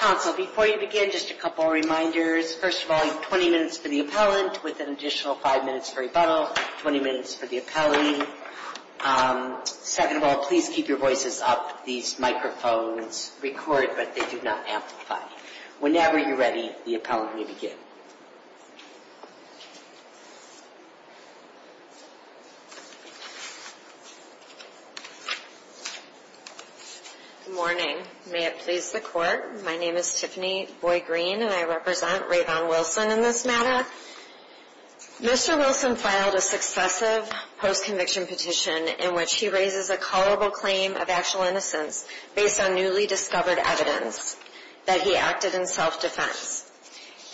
Council, before you begin, just a couple of reminders. First of all, you have 20 minutes for the appellant, with an additional 5 minutes for rebuttal, 20 minutes for the appellee. Second of all, please keep your voices up. These microphones record, but they do not amplify. Whenever you're ready, the appellant may begin. Good morning. May it please the Court, my name is Tiffany Boy Green and I represent Rayvon Wilson in this matter. Mr. Wilson filed a successive post-conviction petition in which he raises a culpable claim of actual innocence based on newly discovered evidence that he acted in self-defense.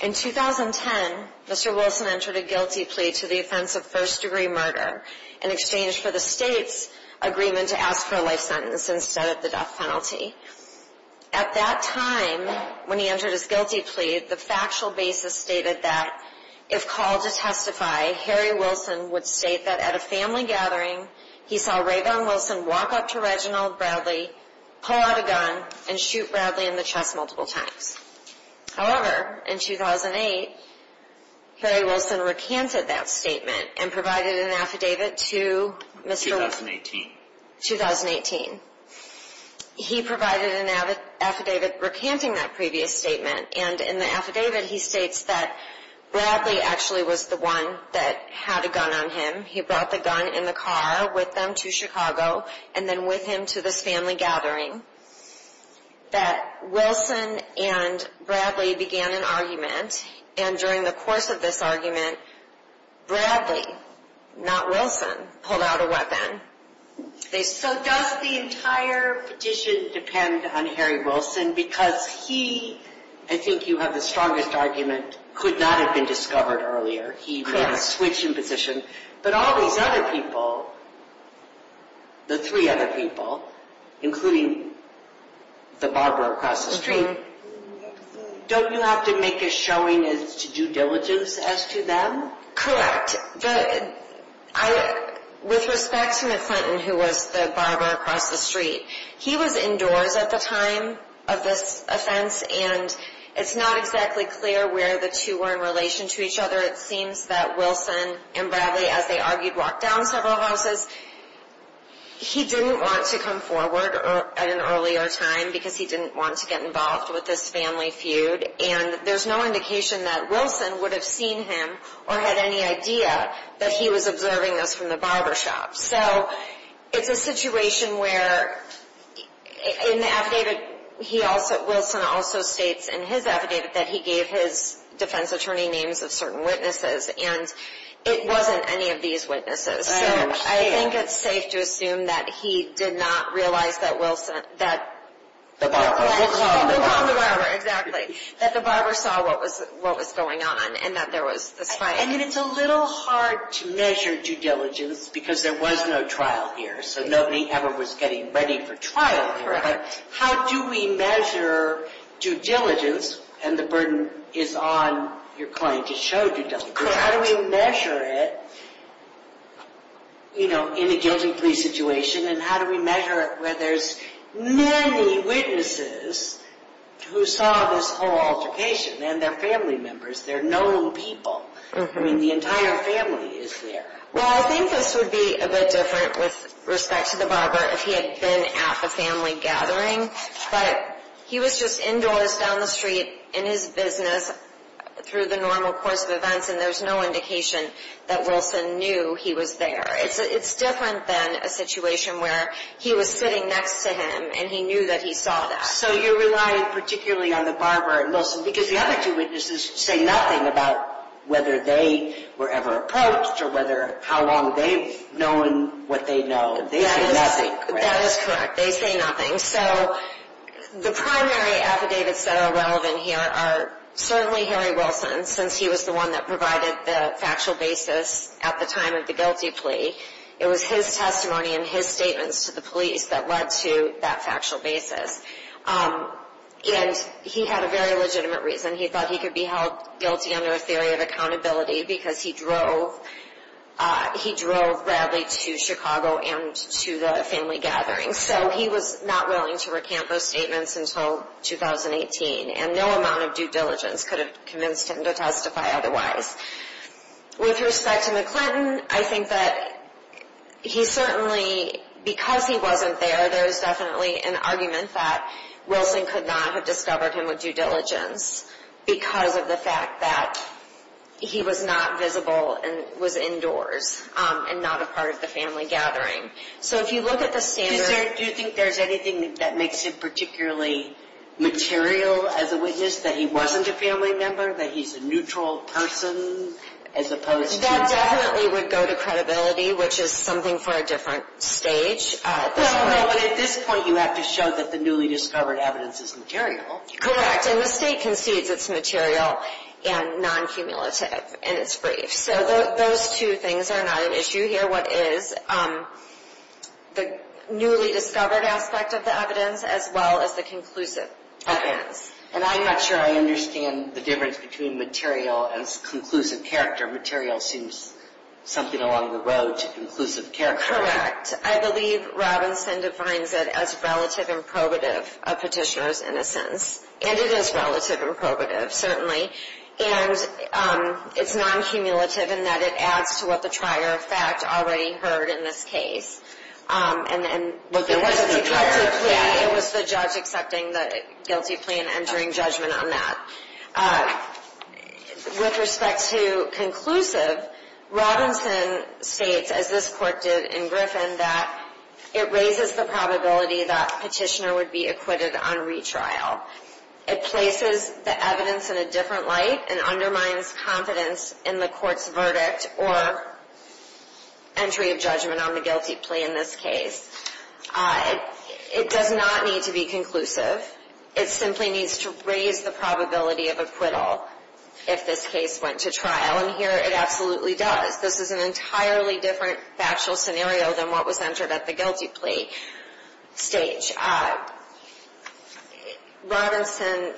In 2010, Mr. Wilson entered a guilty plea to the offense of first-degree murder in exchange for the state's agreement to ask for a life sentence instead of the death penalty. At that time, when he entered his guilty plea, the factual basis stated that, if called to testify, Harry Wilson would state that at a family gathering, he saw Rayvon Wilson walk up to Reginald Bradley, pull out a gun, and shoot Bradley in the chest multiple times. However, in 2008, Harry Wilson recanted that statement and provided an affidavit to Mr. Wilson. 2018. He provided an affidavit recanting that previous statement and in the affidavit he states that Bradley actually was the one that had a gun on him. He brought the gun in the car with him to Chicago and then with him to this family gathering. That Wilson and Bradley began an argument and during the course of this argument, Bradley, not Wilson, pulled out a weapon. So does the entire petition depend on Harry Wilson? Because he, I think you have the strongest argument, could not have been discovered earlier. He would have switched in position. But all these other people, the three other people, including the barber across the street, don't you have to make a showing of due diligence as to them? Correct. With respect to McClinton, who was the barber across the street, he was indoors at the time of this offense and it's not exactly clear where the two were in relation to each other. It seems that Wilson and Bradley, as they argued, walked down several houses. He didn't want to come forward at an earlier time because he didn't want to get involved with this family feud and there's no indication that Wilson would have seen him or had any idea that he was observing this from the barber shop. So it's a situation where in the affidavit, Wilson also states in his affidavit that he gave his defense attorney names of certain witnesses and it wasn't any of these witnesses. So I think it's safe to assume that he did not realize that the barber saw what was going on and that there was this fight. And it's a little hard to measure due diligence because there was no trial here, so nobody ever was getting ready for trial here. But how do we measure due diligence, and the burden is on your client to show due diligence. Correct. How do we measure it, you know, in a guilty plea situation and how do we measure it where there's many witnesses who saw this whole altercation and they're family members. They're known people. I mean, the entire family is there. Well, I think this would be a bit different with respect to the barber if he had been at the family gathering. But he was just indoors down the street in his business through the normal course of events and there's no indication that Wilson knew he was there. It's different than a situation where he was sitting next to him and he knew that he saw that. So you're relying particularly on the barber and Wilson because the other two witnesses say nothing about whether they were ever approached or how long they've known what they know. They say nothing. That is correct. They say nothing. So the primary affidavits that are relevant here are certainly Harry Wilson since he was the one that provided the factual basis at the time of the guilty plea. It was his testimony and his statements to the police that led to that factual basis. And he had a very legitimate reason. He thought he could be held guilty under a theory of accountability because he drove Bradley to Chicago and to the family gathering. So he was not willing to recant those statements until 2018. And no amount of due diligence could have convinced him to testify otherwise. With respect to McClinton, I think that he certainly, because he wasn't there, there's definitely an argument that Wilson could not have discovered him with due diligence because of the fact that he was not visible and was indoors and not a part of the family gathering. So if you look at the standard... Do you think there's anything that makes him particularly material as a witness, that he wasn't a family member, that he's a neutral person as opposed to... That definitely would go to credibility, which is something for a different stage at this point. No, no, but at this point you have to show that the newly discovered evidence is material. Correct. And the state concedes it's material and non-cumulative and it's brief. So those two things are not an issue here. What is the newly discovered aspect of the evidence as well as the conclusive evidence. And I'm not sure I understand the difference between material and conclusive character. Material seems something along the road to conclusive character. Correct. I believe Robinson defines it as relative and probative of Petitioner's innocence. And it is relative and probative, certainly. And it's non-cumulative in that it adds to what the trier of fact already heard in this case. And then... There was a guilty plea. Yeah, it was the judge accepting the guilty plea and entering judgment on that. With respect to conclusive, Robinson states, as this court did in Griffin, that it raises the probability that Petitioner would be acquitted on retrial. It places the evidence in a different light and undermines confidence in the court's verdict or entry of judgment on the guilty plea in this case. It does not need to be conclusive. It simply needs to raise the probability of acquittal if this case went to trial. And here it absolutely does. This is an entirely different factual scenario than what was entered at the guilty plea stage. Robinson,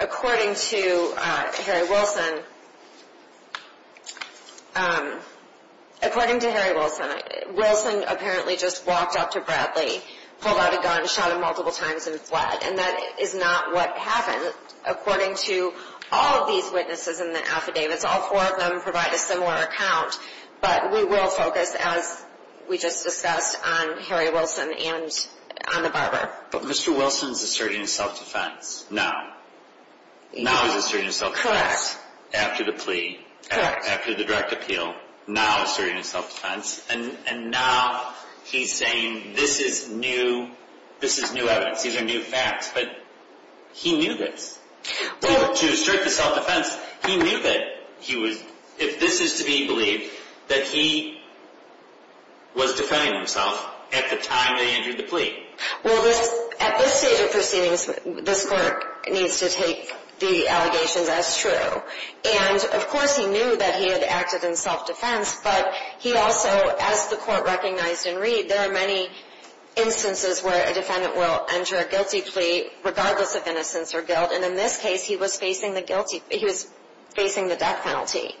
according to Harry Wilson, according to Harry Wilson, Wilson apparently just walked up to Bradley, pulled out a gun, shot him multiple times, and fled. And that is not what happened. According to all of these witnesses in the affidavits, all four of them provide a similar account. But we will focus, as we just discussed, on Harry Wilson and on the barber. But Mr. Wilson is asserting his self-defense. Now. He was asserting his self-defense. Correct. After the plea. Correct. After the direct appeal. Now asserting his self-defense. And now he's saying this is new evidence. These are new facts. But he knew this. To assert his self-defense, he knew that he was, if this is to be believed, that he was defending himself at the time they entered the plea. Well, at this stage of proceedings, this court needs to take the allegations as true. And, of course, he knew that he had acted in self-defense, but he also, as the court recognized in Reed, there are many instances where a defendant will enter a guilty plea regardless of innocence or guilt. And in this case, he was facing the death penalty.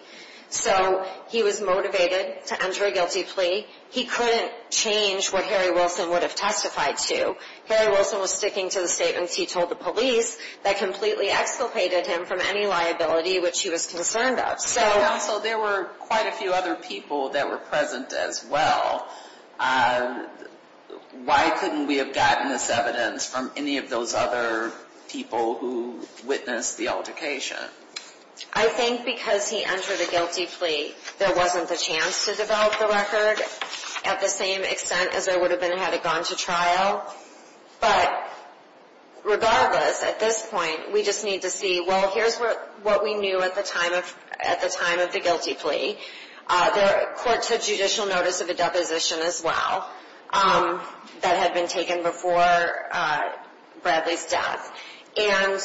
So he was motivated to enter a guilty plea. He couldn't change what Harry Wilson would have testified to. Harry Wilson was sticking to the statements he told the police that completely exculpated him from any liability which he was concerned of. Counsel, there were quite a few other people that were present as well. Why couldn't we have gotten this evidence from any of those other people who witnessed the altercation? I think because he entered a guilty plea, there wasn't the chance to develop the record at the same extent as there would have been had it gone to trial. But regardless, at this point, we just need to see, well, here's what we knew at the time of the guilty plea. The court took judicial notice of a deposition as well that had been taken before Bradley's death. And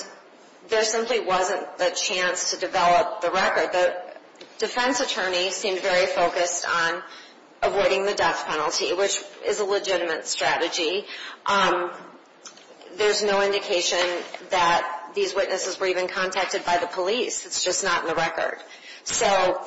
there simply wasn't the chance to develop the record. The defense attorney seemed very focused on avoiding the death penalty, which is a legitimate strategy. There's no indication that these witnesses were even contacted by the police. It's just not in the record. So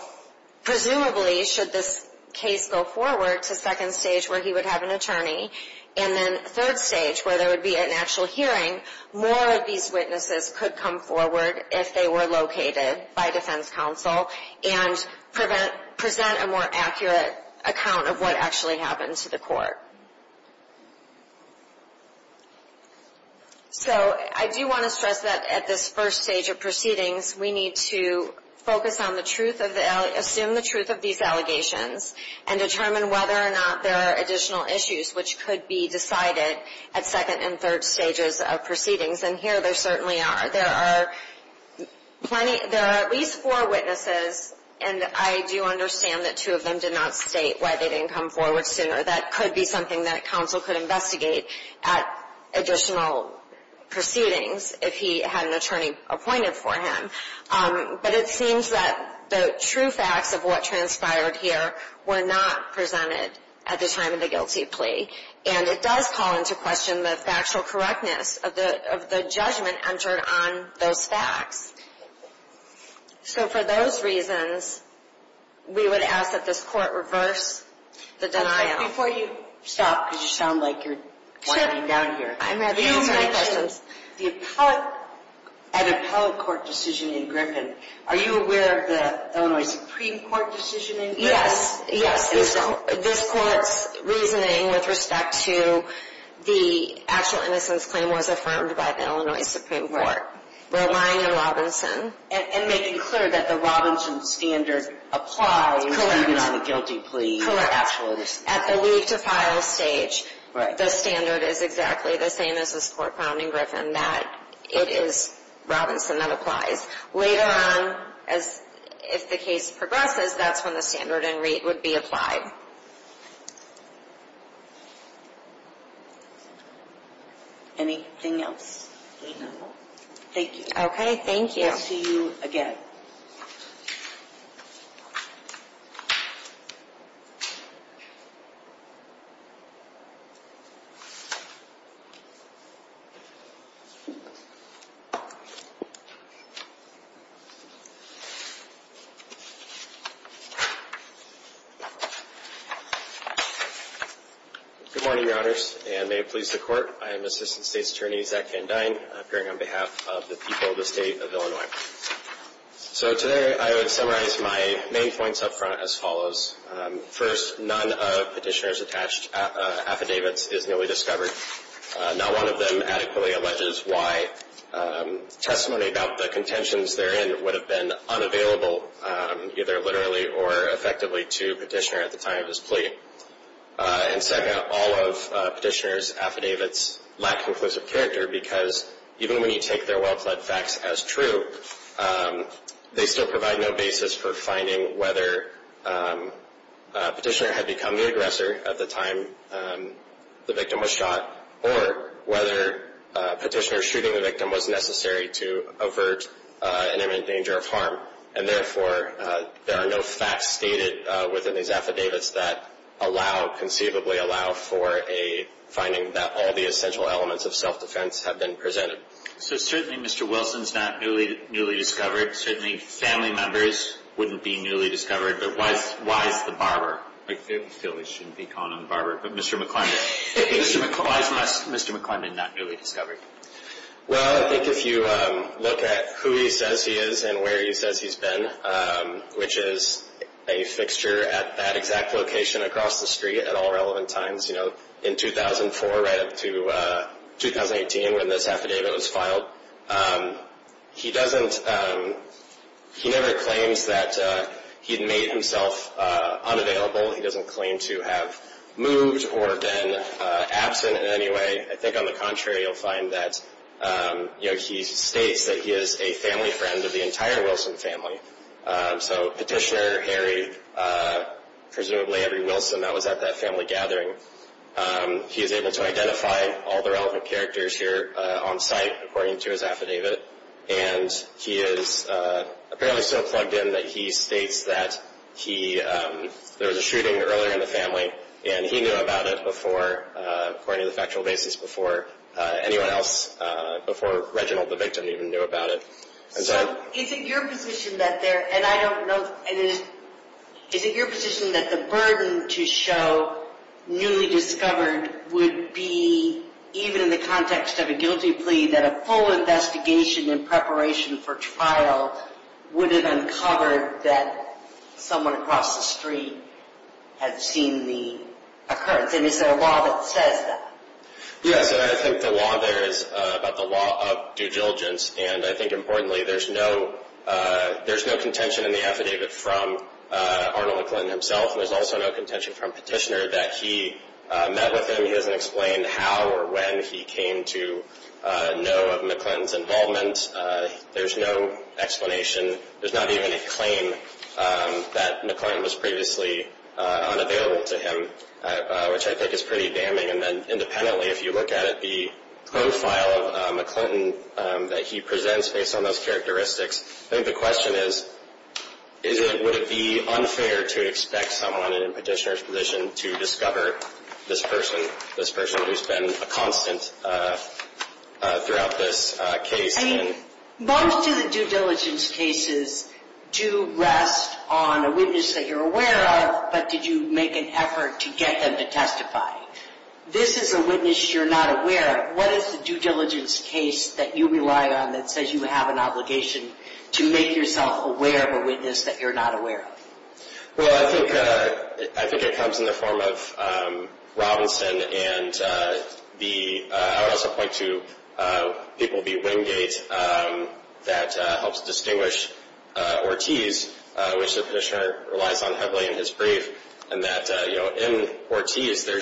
presumably, should this case go forward to second stage where he would have an attorney, and then third stage where there would be an actual hearing, more of these witnesses could come forward if they were located by defense counsel and present a more accurate account of what actually happened to the court. So I do want to stress that at this first stage of proceedings, we need to focus on the truth of the – which could be decided at second and third stages of proceedings. And here there certainly are. There are plenty – there are at least four witnesses, and I do understand that two of them did not state why they didn't come forward sooner. That could be something that counsel could investigate at additional proceedings if he had an attorney appointed for him. But it seems that the true facts of what transpired here were not presented at the time of the guilty plea. And it does call into question the factual correctness of the judgment entered on those facts. So for those reasons, we would ask that this Court reverse the denial. Before you stop, because you sound like you're winding down here. I'm happy to answer any questions. The appellate – at appellate court decision in Griffin, are you aware of the Illinois Supreme Court decision in Griffin? Yes. Yes. This Court's reasoning with respect to the actual innocence claim was affirmed by the Illinois Supreme Court. Roline and Robinson. And making clear that the Robinson standard applies even on the guilty plea. At the leave to file stage. Right. The standard is exactly the same as this Court found in Griffin. That it is Robinson that applies. Later on, if the case progresses, that's when the standard and rate would be applied. Anything else? Thank you. Okay, thank you. We'll see you again. Good morning, Your Honors, and may it please the Court. I am Assistant State's Attorney Zach Van Dine, appearing on behalf of the people of the State of Illinois. So today, I would summarize my main points up front as follows. First, none of Petitioner's attached affidavits is newly discovered. Not one of them adequately alleges why testimony about the contentions therein would have been unavailable, either literally or effectively, to Petitioner at the time of his plea. And second, all of Petitioner's affidavits lack conclusive character because even when you take their well-fled facts as true, they still provide no basis for finding whether Petitioner had become the aggressor at the time the victim was shot, or whether Petitioner shooting the victim was necessary to avert an imminent danger of harm. And therefore, there are no facts stated within these affidavits that allow, conceivably allow, for a finding that all the essential elements of self-defense have been presented. So certainly, Mr. Wilson's not newly discovered. Certainly, family members wouldn't be newly discovered. But why is the barber? I feel we shouldn't be calling him the barber. But Mr. McClendon, why is Mr. McClendon not newly discovered? Well, I think if you look at who he says he is and where he says he's been, which is a fixture at that exact location across the street at all relevant times, you know, in 2004 right up to 2018 when this affidavit was filed, he doesn't, he never claims that he made himself unavailable. He doesn't claim to have moved or been absent in any way. I think on the contrary, you'll find that, you know, he states that he is a family friend of the entire Wilson family. So Petitioner Harry, presumably Harry Wilson, that was at that family gathering, he is able to identify all the relevant characters here on site according to his affidavit. And he is apparently so plugged in that he states that he, there was a shooting earlier in the family and he knew about it before, according to the factual basis, before anyone else, before Reginald, the victim, even knew about it. So is it your position that there, and I don't know, is it your position that the burden to show newly discovered would be, even in the context of a guilty plea, that a full investigation in preparation for trial would have uncovered that someone across the street had seen the occurrence? And is there a law that says that? Yes, and I think the law there is about the law of due diligence. Importantly, there's no contention in the affidavit from Arnold McClinton himself. There's also no contention from Petitioner that he met with him. He doesn't explain how or when he came to know of McClinton's involvement. There's no explanation. There's not even a claim that McClinton was previously unavailable to him, which I think is pretty damning. And then independently, if you look at it, the profile of McClinton that he presents based on those characteristics, I think the question is, would it be unfair to expect someone in Petitioner's position to discover this person, this person who's been a constant throughout this case? I mean, most of the due diligence cases do rest on a witness that you're aware of, but did you make an effort to get them to testify? This is a witness you're not aware of. What is the due diligence case that you rely on that says you have an obligation to make yourself aware of a witness that you're not aware of? Well, I think it comes in the form of Robinson, and I would also point to people like Wingate that helps distinguish Ortiz, which the Petitioner relies on heavily in his brief, and that in Ortiz, there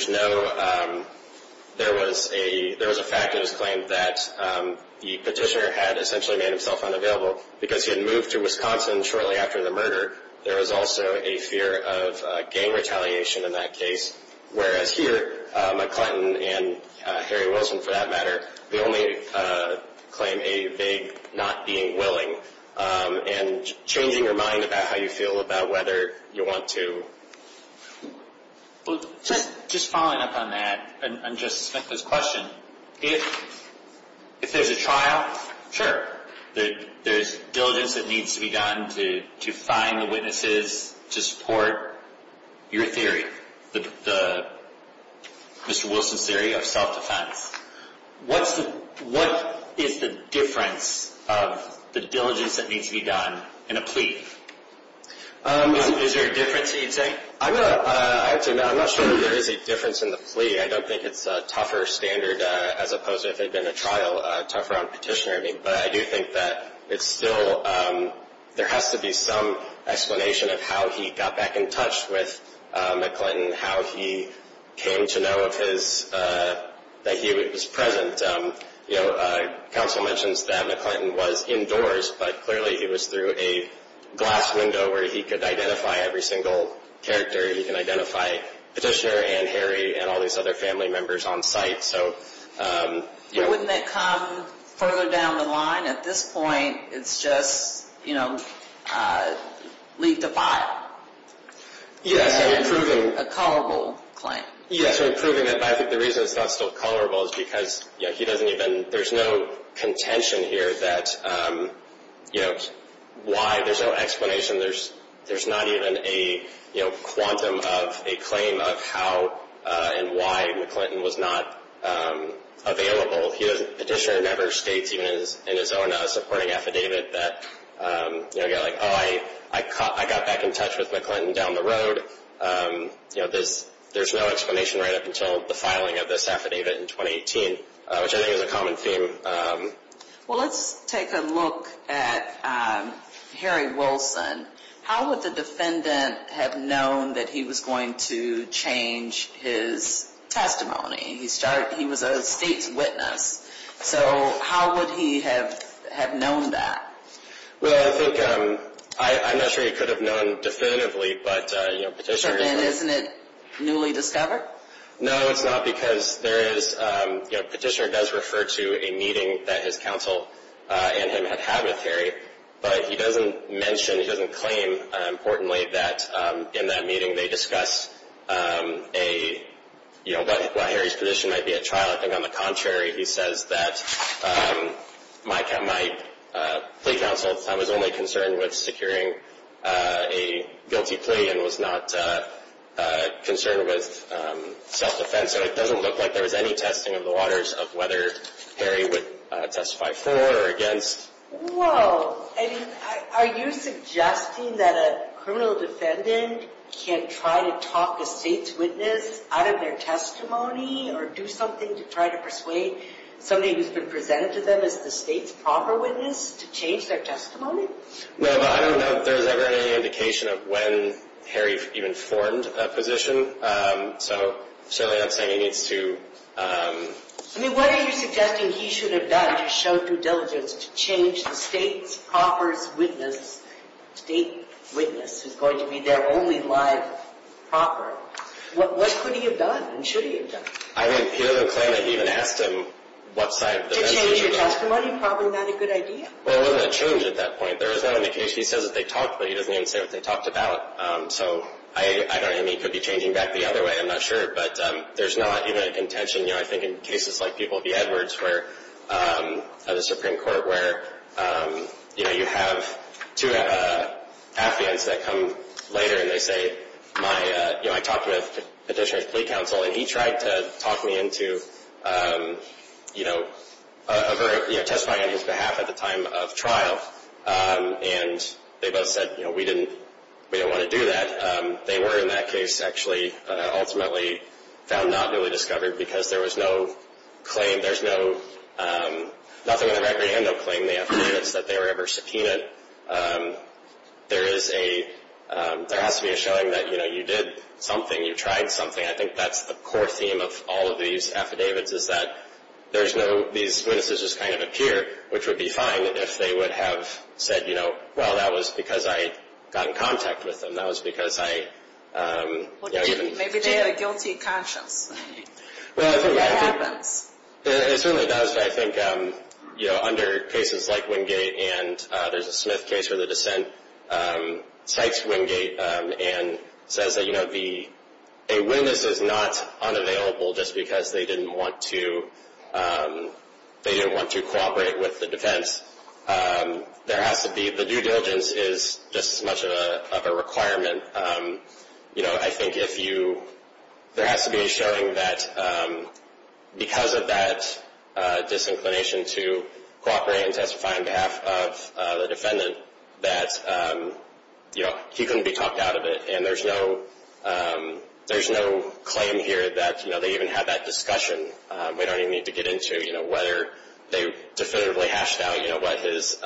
was a fact that was claimed that the Petitioner had essentially made himself unavailable because he had moved to Wisconsin shortly after the murder. There was also a fear of gang retaliation in that case, whereas here, McClinton and Harry Wilson, for that matter, they only claim a vague not being willing and changing your mind about how you feel about whether you want to. Just following up on that and Justice Smith's question, if there's a trial, sure, there's diligence that needs to be done to find the witnesses to support your theory, Mr. Wilson's theory of self-defense. What is the difference of the diligence that needs to be done in a plea? Is there a difference that you'd say? I'm not sure that there is a difference in the plea. I don't think it's a tougher standard as opposed to if it had been a trial, tougher on Petitioner. But I do think that there has to be some explanation of how he got back in touch with McClinton, and how he came to know that he was present. Council mentions that McClinton was indoors, but clearly he was through a glass window where he could identify every single character. He can identify Petitioner and Harry and all these other family members on site. Wouldn't that come further down the line? At this point, it's just leave the file. Yes, so improving... A colorable claim. Yes, so improving it, but I think the reason it's not still colorable is because he doesn't even, there's no contention here that, you know, why, there's no explanation. There's not even a quantum of a claim of how and why McClinton was not available. Petitioner never states even in his own supporting affidavit that, you know, like, oh, I got back in touch with McClinton down the road. You know, there's no explanation right up until the filing of this affidavit in 2018, which I think is a common theme. Well, let's take a look at Harry Wilson. How would the defendant have known that he was going to change his testimony? He was a state's witness. So how would he have known that? Well, I think, I'm not sure he could have known definitively, but, you know, Petitioner... So then isn't it newly discovered? No, it's not because there is, you know, Petitioner does refer to a meeting that his counsel and him had had with Harry, but he doesn't mention, he doesn't claim, importantly, that in that meeting they discussed a, you know, what Harry's position might be at trial. I think, on the contrary, he says that my plea counsel at the time was only concerned with securing a guilty plea and was not concerned with self-defense. So it doesn't look like there was any testing of the waters of whether Harry would testify for or against. Well, I mean, are you suggesting that a criminal defendant can try to talk a state's witness out of their testimony or do something to try to persuade somebody who's been presented to them as the state's proper witness to change their testimony? Well, I don't know if there's ever any indication of when Harry even formed a position, so certainly I'm saying he needs to... I mean, what are you suggesting he should have done? He showed due diligence to change the state's proper witness, state witness, who's going to be their only live proper. What could he have done and should he have done? I mean, he doesn't claim that he even asked him what side... To change his testimony, probably not a good idea. Well, it wasn't a change at that point. There was no indication. He says that they talked, but he doesn't even say what they talked about. So I don't even think he could be changing back the other way. I'm not sure, but there's not even a contention. You know, I think in cases like people at the Edwards where, at the Supreme Court where, you know, you have two affiants that come later and they say, you know, I talked with the petitioner's plea counsel and he tried to talk me into, you know, testifying on his behalf at the time of trial, and they both said, you know, we didn't want to do that. They were in that case actually ultimately found not newly discovered because there was no claim. There's nothing on the record and no claim. They have evidence that they were ever subpoenaed. There is a, there has to be a showing that, you know, you did something, you tried something. I think that's the core theme of all of these affidavits is that there's no, these witnesses just kind of appear, which would be fine if they would have said, you know, well, that was because I got in contact with them. That was because I, you know, even. Maybe they had a guilty conscience. Well, I think. That happens. It certainly does. I think, you know, under cases like Wingate and there's a Smith case where the dissent cites Wingate and says that, you know, the, a witness is not unavailable just because they didn't want to, they didn't want to cooperate with the defense. There has to be, the due diligence is just as much of a requirement. You know, I think if you, there has to be a showing that because of that disinclination to cooperate and testify on behalf of the defendant that, you know, he couldn't be talked out of it. And there's no, there's no claim here that, you know, they even had that discussion. We don't even need to get into, you know, whether they definitively hashed out, you know, what his,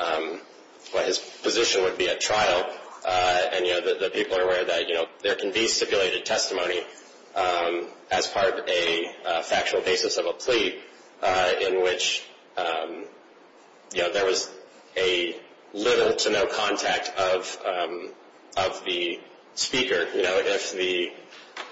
what his position would be at trial. And, you know, the people are aware that, you know, there can be stipulated testimony as part of a factual basis of a plea in which, you know, there was a little to no contact of, of the speaker. You know, if the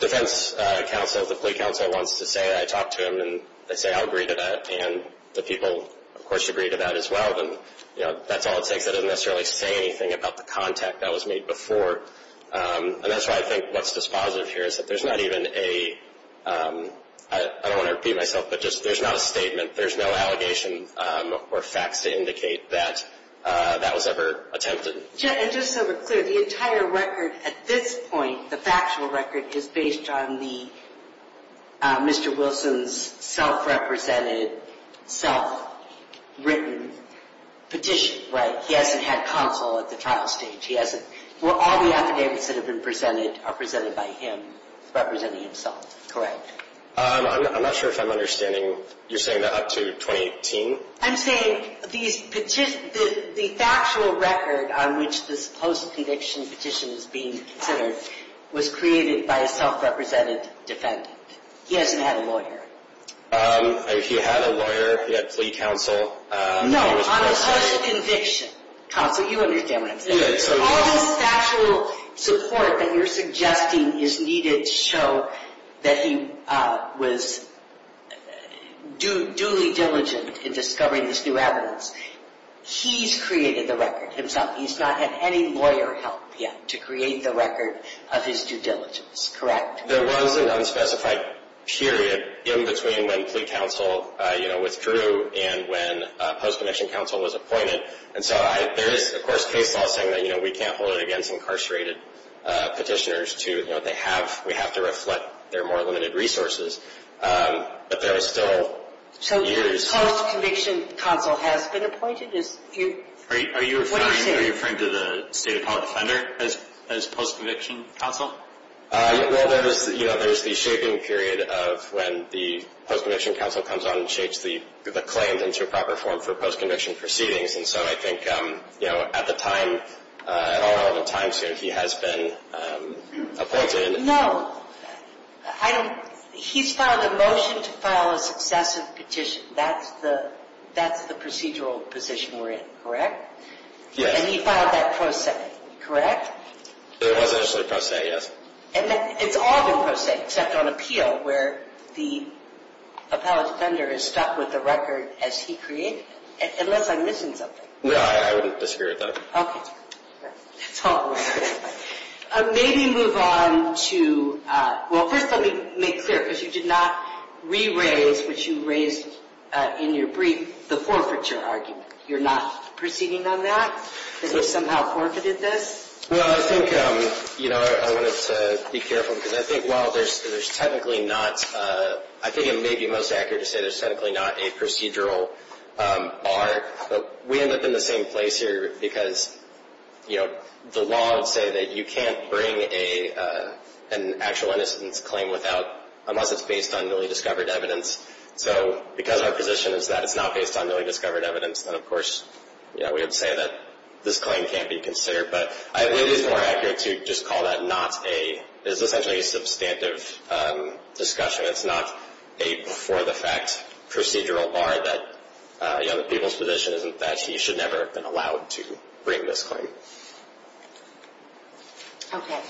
defense counsel, the plea counsel wants to say it, I talk to them and they say, I'll agree to that. And the people, of course, agree to that as well. Then, you know, that's all it takes. That doesn't necessarily say anything about the contact that was made before. And that's why I think what's dispositive here is that there's not even a, I don't want to repeat myself, but just there's not a statement, there's no allegation or facts to indicate that that was ever attempted. And just so we're clear, the entire record at this point, the factual record is based on the, Mr. Wilson's self-represented, self-written petition, right? He hasn't had counsel at the trial stage. He hasn't, all the affidavits that have been presented are presented by him. He's representing himself, correct? I'm not sure if I'm understanding. You're saying that up to 2018? I'm saying the factual record on which this post-conviction petition is being considered was created by a self-represented defendant. He hasn't had a lawyer. He had a lawyer, he had plea counsel. No, on a post-conviction. Counsel, you understand what I'm saying. All this factual support that you're suggesting is needed to show that he was duly diligent in discovering this new evidence. He's created the record himself. He's not had any lawyer help yet to create the record of his due diligence, correct? There was an unspecified period in between when plea counsel was through and when post-conviction counsel was appointed. And so there is, of course, case law saying that we can't hold it against incarcerated petitioners given what they have. We have to reflect their more limited resources. But there is still years. So post-conviction counsel has been appointed? What are you saying? Are you referring to the State Appellate Defender as post-conviction counsel? Well, there's the shaping period of when the post-conviction counsel comes on and shapes the claims into a proper form for post-conviction proceedings. And so I think at the time, at all relevant times, he has been appointed. No. He's filed a motion to file a successive petition. That's the procedural position we're in, correct? Yes. And he filed that pro se, correct? It was actually pro se, yes. And it's all been pro se, except on appeal where the appellate defender is stuck with the record as he created it, unless I'm missing something. No, I wouldn't disagree with that. Okay. That's all. Maybe move on to, well, first let me make clear, because you did not re-raise, which you raised in your brief, the forfeiture argument. You're not proceeding on that? That you somehow forfeited this? Well, I think, you know, I wanted to be careful, because I think while there's technically not, I think it may be most accurate to say there's technically not a procedural bar, but we end up in the same place here, because, you know, the law would say that you can't bring an actual innocence claim without, unless it's based on newly discovered evidence. So because our position is that it's not based on newly discovered evidence, then of course, you know, we would say that this claim can't be considered. But I believe it's more accurate to just call that not a, it's essentially a substantive discussion. It's not a before the fact procedural bar that, you know, our position is that he should never have been allowed to bring this claim. Okay.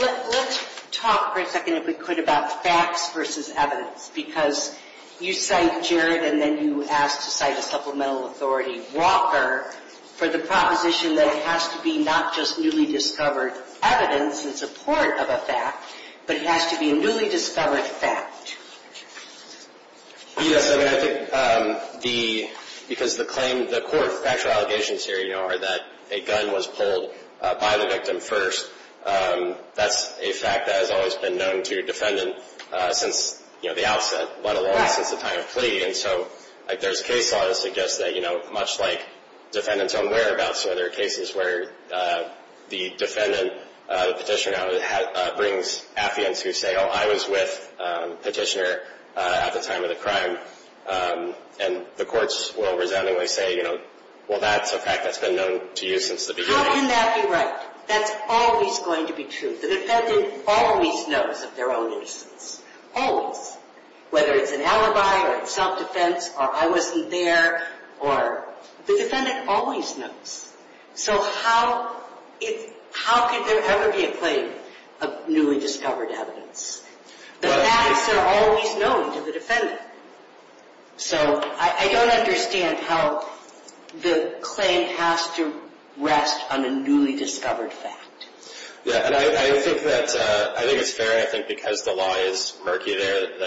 Let's talk for a second, if we could, about facts versus evidence, because you cite Jared, and then you asked to cite a supplemental authority, Walker, for the proposition that it has to be not just newly discovered evidence in support of a fact, but it has to be a newly discovered fact. Yes. I mean, I think the, the claim, the court's actual allegations here, you know, are that a gun was pulled by the victim first. That's a fact that has always been known to defendant since, you know, the outset, let alone since the time of plea. And so, like, there's case law that suggests that, you know, much like defendants own whereabouts, where there are cases where the defendant, the petitioner, brings affiance who say, oh, I was with petitioner at the time of the crime. And the courts will resoundingly say, you know, well, that's a fact that's been known to you since the beginning. How can that be right? That's always going to be true. The defendant always knows of their own innocence. Always. Whether it's an alibi or self-defense or I wasn't there or, the defendant always knows. So how, how could there ever be a claim of newly discovered evidence? The facts are always known to the defendant. The claim has to rest on a newly discovered fact. Yeah, and I think that, I think it's fair, I think, because the law is murky there. You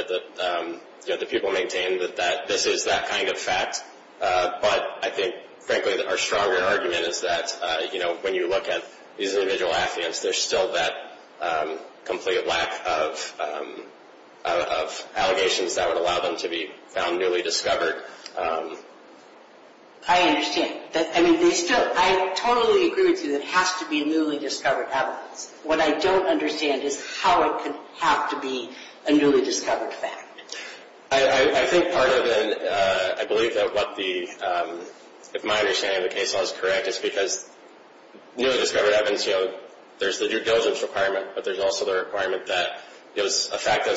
know, the people maintain that this is that kind of fact. But I think, frankly, our stronger argument is that, you know, when you look at these individual affiance, there's still that complete lack of allegations that would allow them to be found newly discovered. I understand. I mean, they still, I totally agree with you that it has to be newly discovered evidence. What I don't understand is how it could have to be a newly discovered fact. I think part of it, I believe that what the, if my understanding of the case law is correct is because newly discovered evidence, you know, there's the due diligence requirement, but there's also the requirement that it was a fact that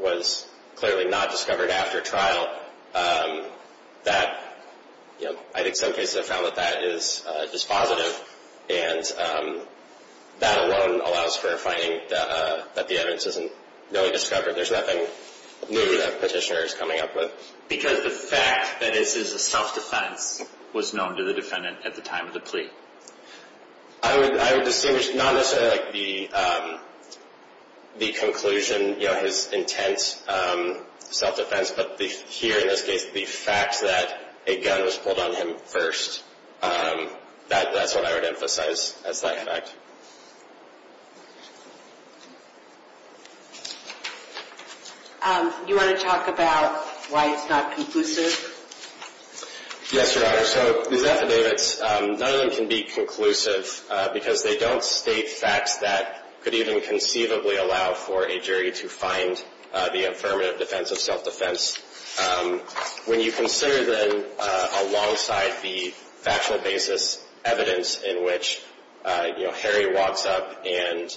was clearly not discovered after trial. That, you know, I think some cases have found that that is just positive, and that alone allows for finding that the evidence isn't newly discovered. There's nothing new that Petitioner is coming up with. Because the fact that this is a self-defense was known to the defendant at the time of the plea. I would distinguish not necessarily like the conclusion, you know, his intense self-defense, but here in this case the fact that a gun was pulled on him first. That's what I would emphasize as that fact. You want to talk about why it's not conclusive? Yes, Your Honor. So these affidavits, none of them can be conclusive because they don't state facts that could even conceivably allow the defendant to find the affirmative defense of self-defense. When you consider then alongside the factual basis evidence in which, you know, Harry walks up and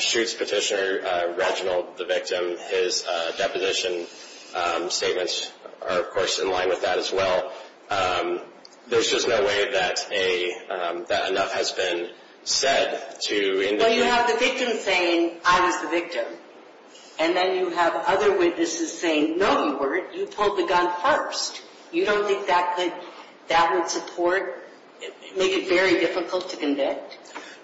shoots Petitioner, Reginald, the victim, his deposition statements are, of course, in line with that as well. There's just no way that enough has been said to indicate... You have the victim saying I was the victim and then you have other witnesses saying no you weren't, you pulled the gun first. You don't think that would support, make it very difficult to convict?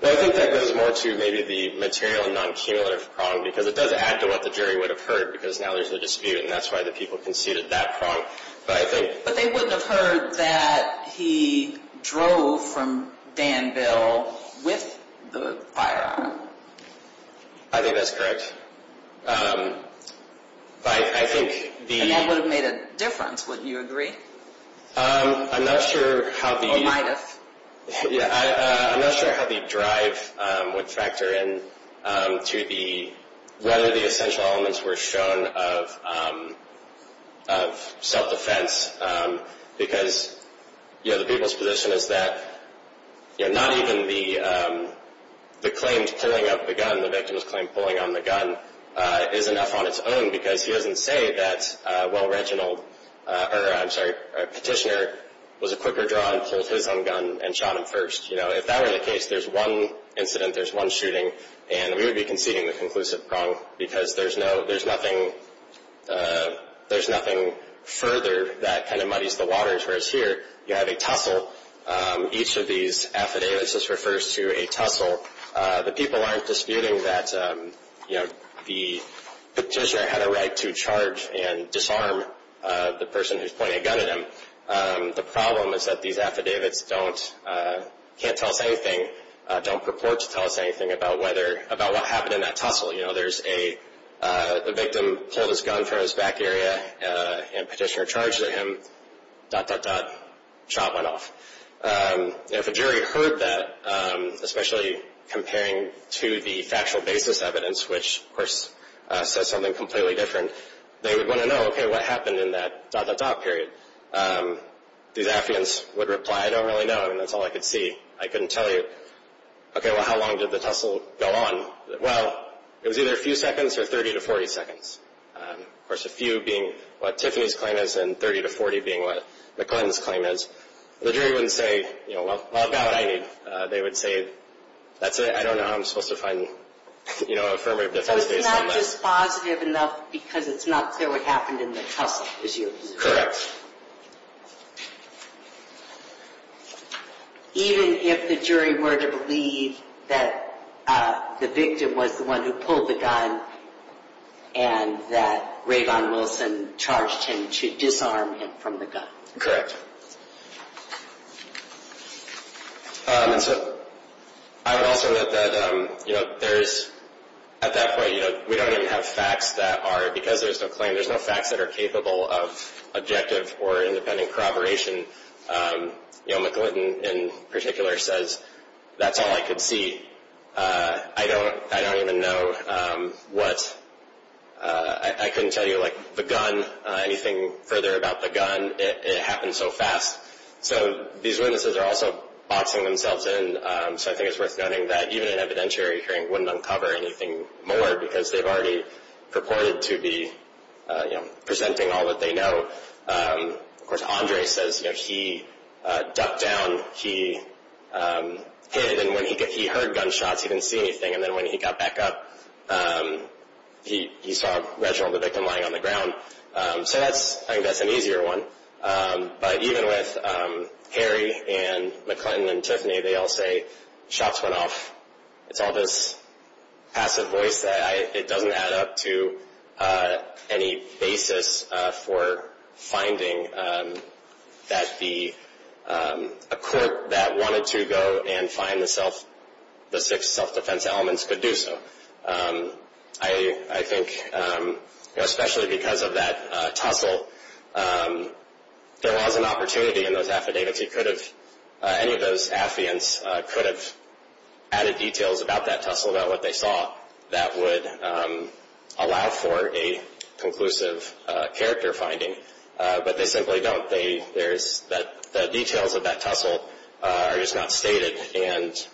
I think that goes more to maybe the material and non-cumulative problem because it does add to what the jury would have heard because now there's a dispute and that's why the people conceded that problem. But they wouldn't have heard that he drove from Danville with the firearm. I think that's correct. I think the... And that would have made a difference, wouldn't you agree? I'm not sure how the... Or might have. I'm not sure how the drive would factor in to whether the essential elements were shown of self-defense because the people's position is that not even the claims pulling up the gun, the victim's claim pulling on the gun is enough on its own because he doesn't say that well-retinaled, or I'm sorry, petitioner was a quicker draw and pulled his own gun and shot him first. If that were the case, there's one incident, there's one shooting and we would be conceding the conclusive wrong because there's nothing further that kind of muddies the waters. Whereas here, you have a tussle. Each of these affidavits just refers to a tussle. The people aren't disputing that the petitioner had a right to charge and disarm the person who's pointing a gun at him. The problem is that these affidavits can't tell us anything, don't purport to tell us anything about what happened in that tussle. There's a victim pulled his gun from his back area and petitioner charged at him, dot, dot, dot, shot went off. If a jury heard that, especially comparing to the factual basis evidence, which of course says something completely different, they would want to know, okay, what happened in that dot, dot, dot period. These affidavits would reply, I don't really know and that's all I could see. I couldn't tell you, okay, well how long did the tussle go on? Well, it was either a few seconds or 30 to 40 seconds. Of course, a few being what Tiffany's claim is and 30 to 40 being what McClellan's claim is. The jury wouldn't say, you know, well, how about 90? They would say, that's it, I don't know how I'm supposed to find you know, a affirmative defense based on that. But it's not just positive enough because it's not clear what happened in the tussle. Correct. Even if the jury were to believe that the victim was the one who pulled the gun and that Rayvon Wilson charged him to disarm him from the gun. And so, I would also note that you know, there's at that point, you know, we don't even have facts that are, because there's no claim, there's no facts that are capable of objective or independent corroboration. You know, McClinton in particular says, that's all I could see. I don't, I don't even know what, I couldn't tell you like, the gun, anything further about the gun. It happened so fast. So, these witnesses are also boxing themselves in. So, I think it's worth noting that even an evidentiary hearing wouldn't uncover anything more because they've already purported to be you know, presenting all that they know. Of course, Andre says, you know, he ducked down, he hid, and when he heard gunshots he didn't see anything. And then when he got back up, um, he, he saw Reginald, the victim, lying on the ground. Um, so that's, I think that's an easier one. Um, but even with, um, Harry and McClinton and Tiffany, they all say, shots went off. It's all this passive voice that I, it doesn't add up to, uh, any basis, uh, for finding, um, that the, um, a court that wanted to go and find the self, the six self-defense elements could do so. I, I think, um, especially because of that, uh, tussle, um, there was an opportunity in those affidavits. He could have, uh, any of those affiants, uh, could have added details about that tussle, about what they saw, that would, um, allow for a conclusive, uh, character finding. Uh, but they simply don't. They, there's, there's no evidence that the details of that tussle, uh, are just not stated, and,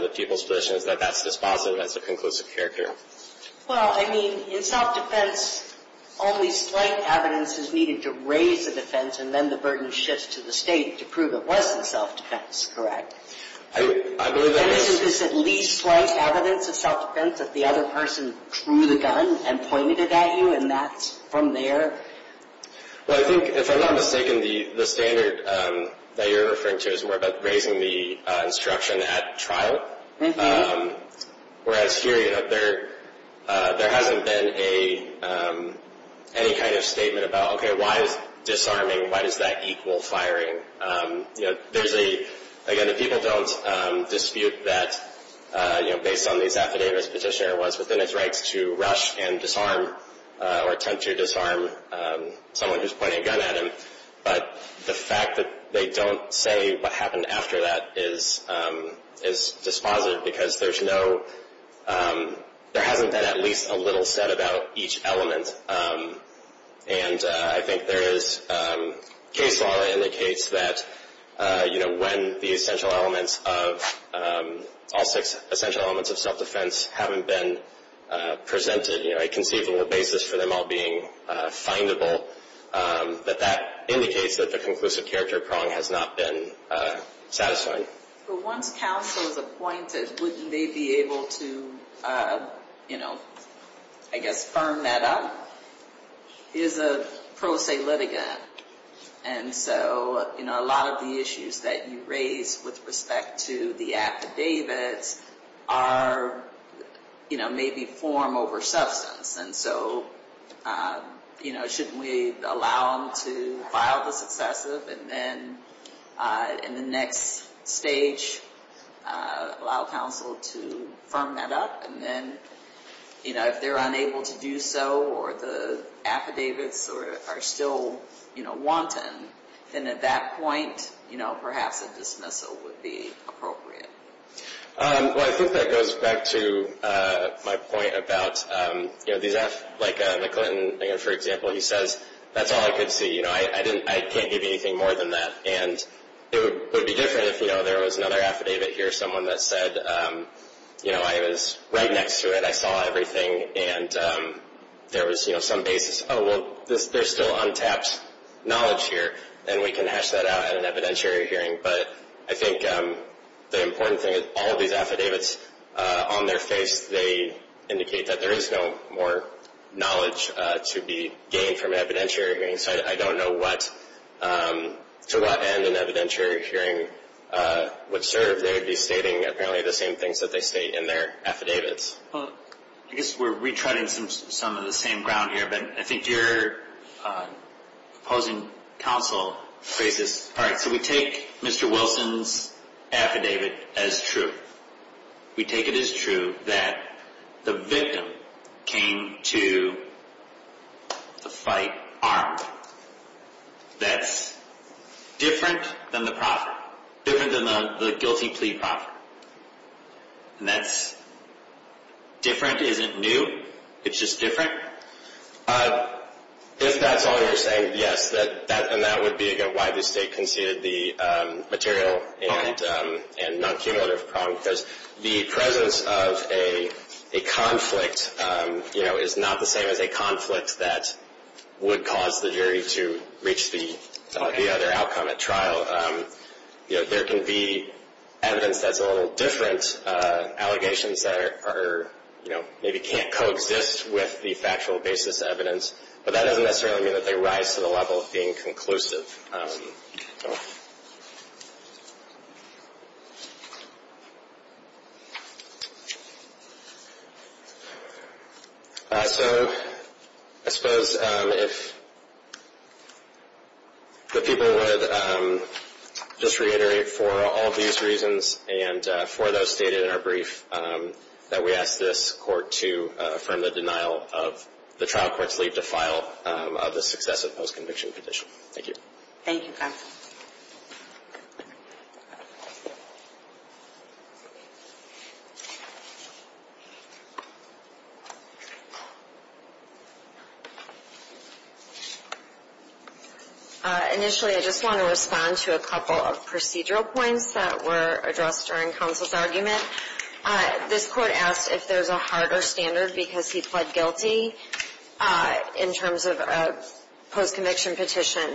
the people's position is that that's dispositive as a conclusive character. Well, I mean, in self-defense, only slight evidence is needed to raise the defense and then the burden shifts to the state to prove it wasn't self-defense, correct? I, I believe that was, Is this at least slight evidence of self-defense that the other person drew the gun and pointed it at you and that, from there? Well, I think, if I'm not mistaken, the, the standard, that you're referring to is more about raising the, uh, instruction at trial. Um, whereas here, you know, there, uh, there hasn't been a, um, any kind of statement about, why is disarming, why does that equal firing? Um, you know, there's a, again, people don't, um, dispute that, uh, you know, based on these affidavits, Petitioner was within his rights to rush and disarm, uh, or attempt to disarm, someone who's pointing a gun at him, but the fact that they don't say what happened after that is, um, is dispositive because there's no, um, there hasn't been at least a little said about each element. Um, and, uh, I think there is, um, a case law that indicates that, uh, you know, when the essential elements of, um, all six essential elements of self-defense haven't been, uh, presented, you know, a conceivable basis for them all being, uh, findable, um, that that indicates that the conclusive character prong has not been, uh, satisfying. But once counsel is appointed, wouldn't they be able to, uh, you know, I guess, firm that up? Is a pro se litigant. And so, you know, a lot of the issues that you raise with respect to the affidavits are, you know, maybe form over substance. And so, uh, you know, shouldn't we allow them to file the successive and then, uh, in the next stage, uh, allow counsel to firm that up? And then, you know, if they're unable to do so, or the affidavits are still, you know, wanton, then at that point, you know, perhaps a dismissal would be appropriate. Um, well, I think that goes back to, uh, my point about, um, you know, these aff, like, uh, McClinton, you know, for example, he says, that's all I could see. You know, I didn't, I can't give you anything more than that. And, it would, it would be different if, there was another affidavit here, someone that said, um, you know, I was right next to it, I saw everything, and, um, there was, some basis, oh, well, this, there's still untapped knowledge here, and we can hash that out at an evidentiary hearing. But, I think, um, the important thing is, all of these affidavits, uh, on their face, they, indicate that there is no more knowledge, to be gained from an evidentiary hearing. So, I don't know what, um, to what end an evidentiary hearing, uh, would serve. They would be stating, the same things that they state in their affidavits. Well, I guess we're retreading some, some of the same ground here, but I think your, uh, opposing counsel, faces, all right, so we take, Mr. Wilson's, affidavit, as true. We take it as true, that, the victim, came to, the fight, armed. That's, different, than the proper. Different than the, the guilty plea proper. And that's, different isn't new, it's just different. Uh, if that's all you're saying, yes, that, that, and that would be, why the state conceded the, um, material, um, and non-cumulative problem, because, the presence of a, a conflict, um, you know, is not the same as a conflict, that, would cause the jury to, reach the, the other outcome at trial. Um, you know, there can be, evidence that's a little different, uh, allegations that are, are, you know, maybe can't coexist, with the factual basis evidence, but that doesn't necessarily mean that they rise to the level of being conclusive. oh. Uh, so, I suppose, um, if, the people would, um, just reiterate, for all these reasons, and, uh, for those stated in our brief, um, that we ask this court to, uh, affirm the denial of, the trial court's leave to file, um, of the successive post-conviction condition. Thank you. Thank you, counsel. Uh, initially, I just want to respond to a couple of procedural points, that were addressed during counsel's argument. Uh, this court asked if there's a harder standard, because he pled guilty, uh, in terms of, uh, post-conviction petition,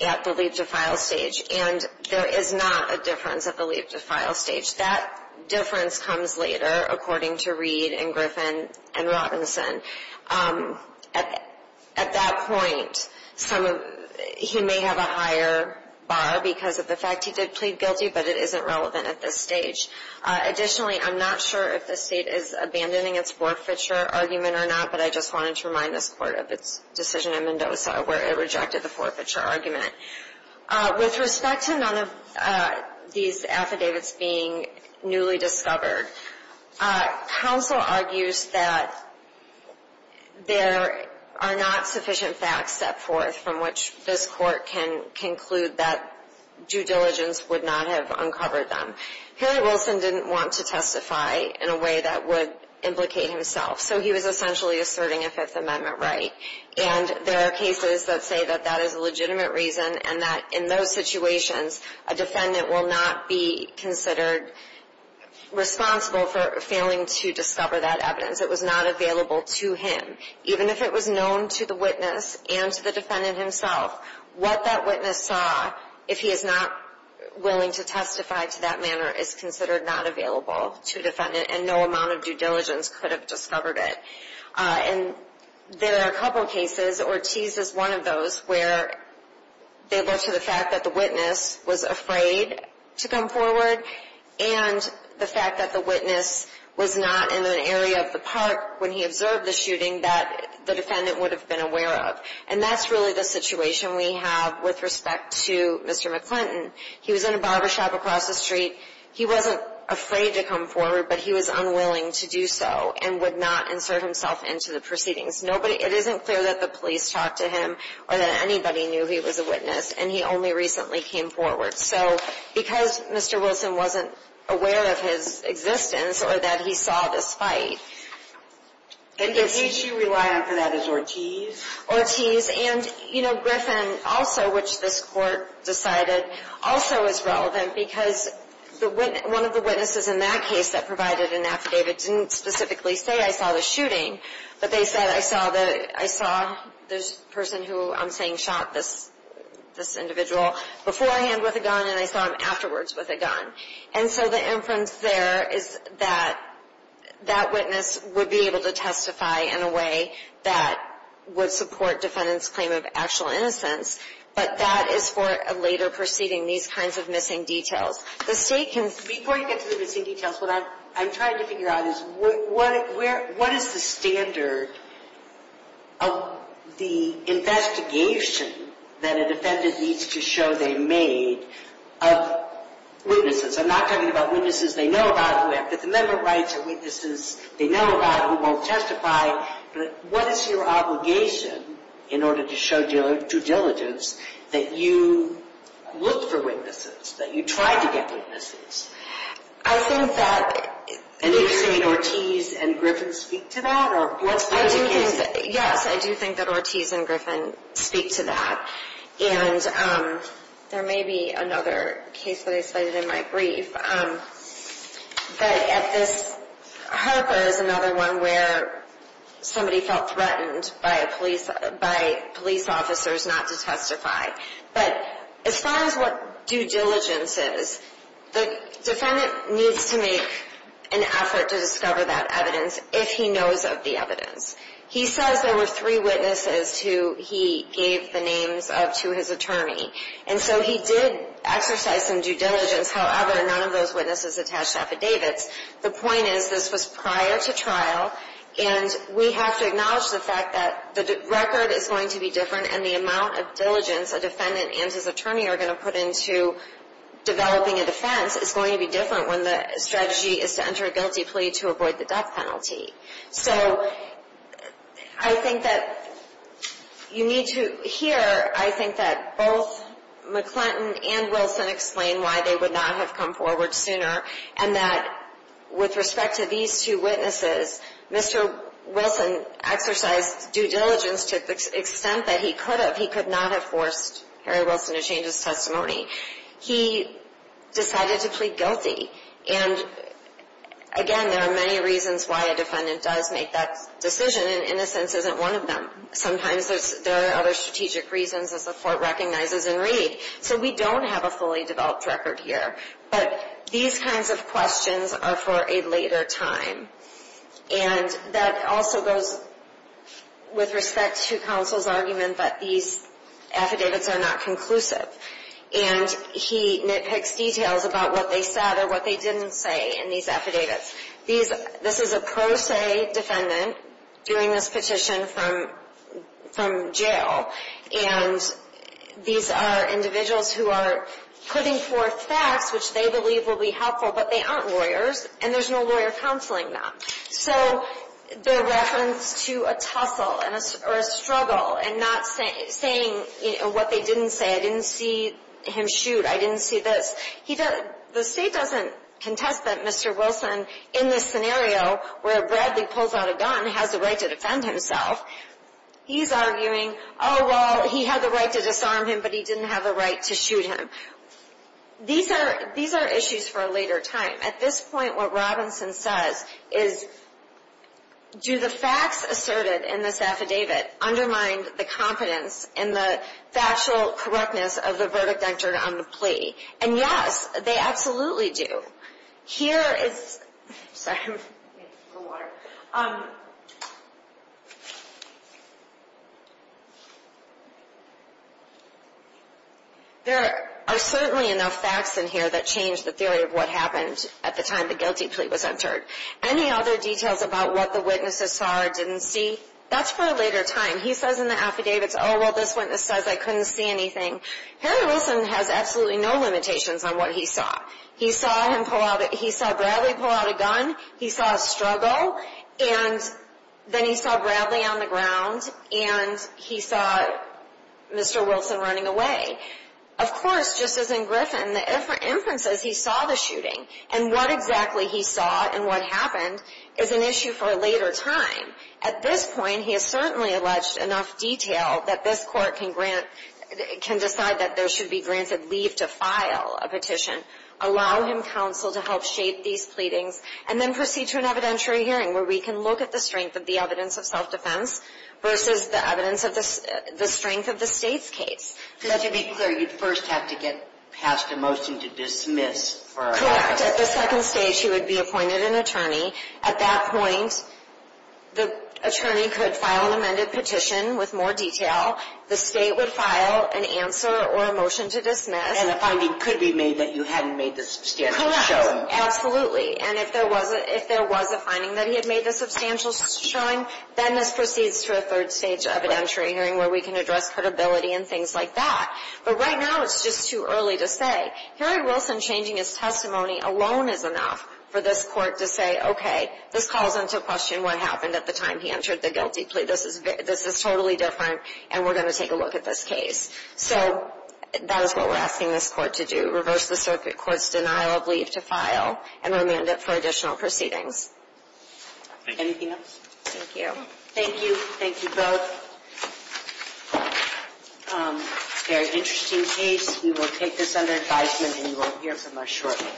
at the leave to file stage. And, there is not a difference at the leave to file stage. That, difference comes later, according to Reed, and Griffin, and Robinson. Um, at, at that point, some of, he may have a higher, bar, because of the fact he did plead guilty, but it isn't relevant at this stage. Uh, additionally, I'm not sure if the state is, abandoning its forfeiture argument, or not, but I just wanted to remind this court of its, decision in Mendoza, where it rejected the forfeiture argument. Uh, with respect to none of, uh, these affidavits being, newly discovered, uh, counsel argues that, there, are not sufficient facts set forth, from which this court can, conclude that, due diligence would not have uncovered them. Harry Wilson didn't want to testify, in a way that would, implicate himself. So he was essentially, asserting a Fifth Amendment right. And, there are cases that say that, that is a legitimate reason, and that, in those situations, a defendant will not be, considered, responsible for, failing to discover that evidence. It was not available to him. Even if it was known to the witness, and to the defendant himself, what that witness saw, if he is not, willing to testify to that manner, is considered not available, to a defendant, and no amount of due diligence, could have discovered it. Uh, and, there are a couple cases, Ortiz is one of those, where, they look to the fact that the witness, was afraid, to come forward, and, the fact that the witness, was not in an area of the park, when he observed the shooting, that, the defendant would have been aware of. And that's really the situation we have, with respect to, Mr. McClinton. He was in a barbershop across the street, he wasn't, afraid to come forward, but he was unwilling to do so, and would not insert himself into the proceedings. Nobody, it isn't clear that the police talked to him, or that anybody knew he was a witness, and he only recently came forward. So, because Mr. Wilson wasn't, aware of his, existence, or that he saw this fight, And the case you rely on for that is Ortiz? and, you know, Griffin also, which this court, decided, also is relevant, because, one of the witnesses in that case, that provided an affidavit, didn't specifically say, I saw the shooting, but they said, I saw the, I saw, this person who, I'm saying shot this, this individual, beforehand with a gun, and I saw him afterwards with a gun. And so the inference there, is that, that witness, would be able to testify in a way, that, would support defendant's claim of actual innocence, but that is for a later proceeding, these kinds of missing details. The state can, Before you get to the missing details, what I'm, I'm trying to figure out is, where, what is the standard, of, investigation, that a defendant needs to show they made, of, witnesses, I'm not talking about witnesses they know about, that the member of rights are witnesses, they know about, who won't testify, but what is your obligation, in order to show due diligence, that you, look for witnesses, that you try to get witnesses, I think that, And did you say Ortiz and Griffin speak to that, or what's the case? Yes, I do think that Ortiz and Griffin, speak to that, and, there may be another case that I cited in my brief, but at this, Harper is another one where, somebody felt threatened by a police, by police officers not to testify, but, as far as what due diligence is, the defendant needs to make, an effort to discover that evidence, if he knows of the evidence, he says there were three witnesses, who he gave the names of to his attorney, and so he did, exercise some due diligence however, none of those witnesses attached affidavits, the point is this was prior to trial, and we have to acknowledge the fact that, the record is going to be different, and the amount of diligence, a defendant and his attorney are going to put into, developing a defense is going to be different, when the strategy is to enter a guilty plea to avoid the death penalty, so, I think that, you need to hear, I think that both, McClinton and Wilson explain why they would not have come forward sooner, and that, with respect to these two witnesses, Mr. Wilson, exercised due diligence to the extent that he could have, he could not have forced Harry Wilson to change his testimony, he decided to plead guilty, and again there are many reasons, why a defendant does make that decision, and innocence isn't one of them, sometimes there are other strategic reasons, as the court recognizes and read, so we don't have a fully developed record here, but these kinds of questions are for a later time, and that also goes, with respect to counsel's argument, that these affidavits are not conclusive, and he nitpicks details about what they said, or what they didn't say in these affidavits, this is a pro se defendant, doing this petition from jail, and these are individuals who are, putting forth facts which they believe will be helpful, but they aren't lawyers, and there's no lawyer counseling them, so the reference to a tussle, or a struggle, and not saying what they didn't say, I didn't see him shoot, I didn't see this, the state doesn't contest that Mr. Wilson, in this scenario where Bradley pulls out a gun, has the right to defend himself, he's arguing, oh well he had the right to disarm him, but he didn't have the right to shoot him, these are issues for a later time, at this point what Robinson says, is do the facts asserted in this affidavit, undermine the confidence, and the factual correctness of the verdict entered on the plea, and yes, they absolutely do, here is, sorry, a little water, there are certainly enough facts in here, that change the theory of what happened, at the time the guilty plea was entered, any other details about what the witnesses saw, or didn't see, that's for a later time, he says in the affidavits, oh well this witness says I couldn't see anything, Harry Wilson has absolutely no limitations on what he saw, he saw Bradley pull out a gun, he saw a struggle, and then he saw Bradley on the ground, and he saw Mr. Wilson running away, of course just as in Griffin, the inferences he saw the shooting, and what exactly he saw, and what happened, is an issue for a later time, at this point he has certainly alleged enough detail, that this court can grant, can decide that there should be granted leave to file a petition, allow him counsel to help shape these pleadings, and then proceed to an evidentiary hearing, where we can look at the strength of the evidence of self-defense, versus the evidence of the strength of the state's case, because to be clear, you first have to get passed a motion to dismiss, correct, at the second stage he would be appointed an attorney, at that point the attorney could file an amended petition, with more detail, the state would file an answer, or a motion to dismiss, and a finding could be made that you hadn't made the substantial showing, correct, absolutely, and if there was a finding that he had made the substantial showing, then this proceeds to a third stage evidentiary hearing, where we can address credibility and things like that, but right now it's just too early to say, Harry Wilson changing his testimony alone is enough for this court to say, okay, this calls into question what happened at the time he entered the guilty plea, this is totally different, and we're going to take a look at this case, so that is what we're asking this court to do, reverse the circuit court's denial of leave to file, and remand it for additional proceedings. Anything else? Thank you. Thank you. Thank you both. Very interesting case. We will take this under advisement, and you will hear from us shortly.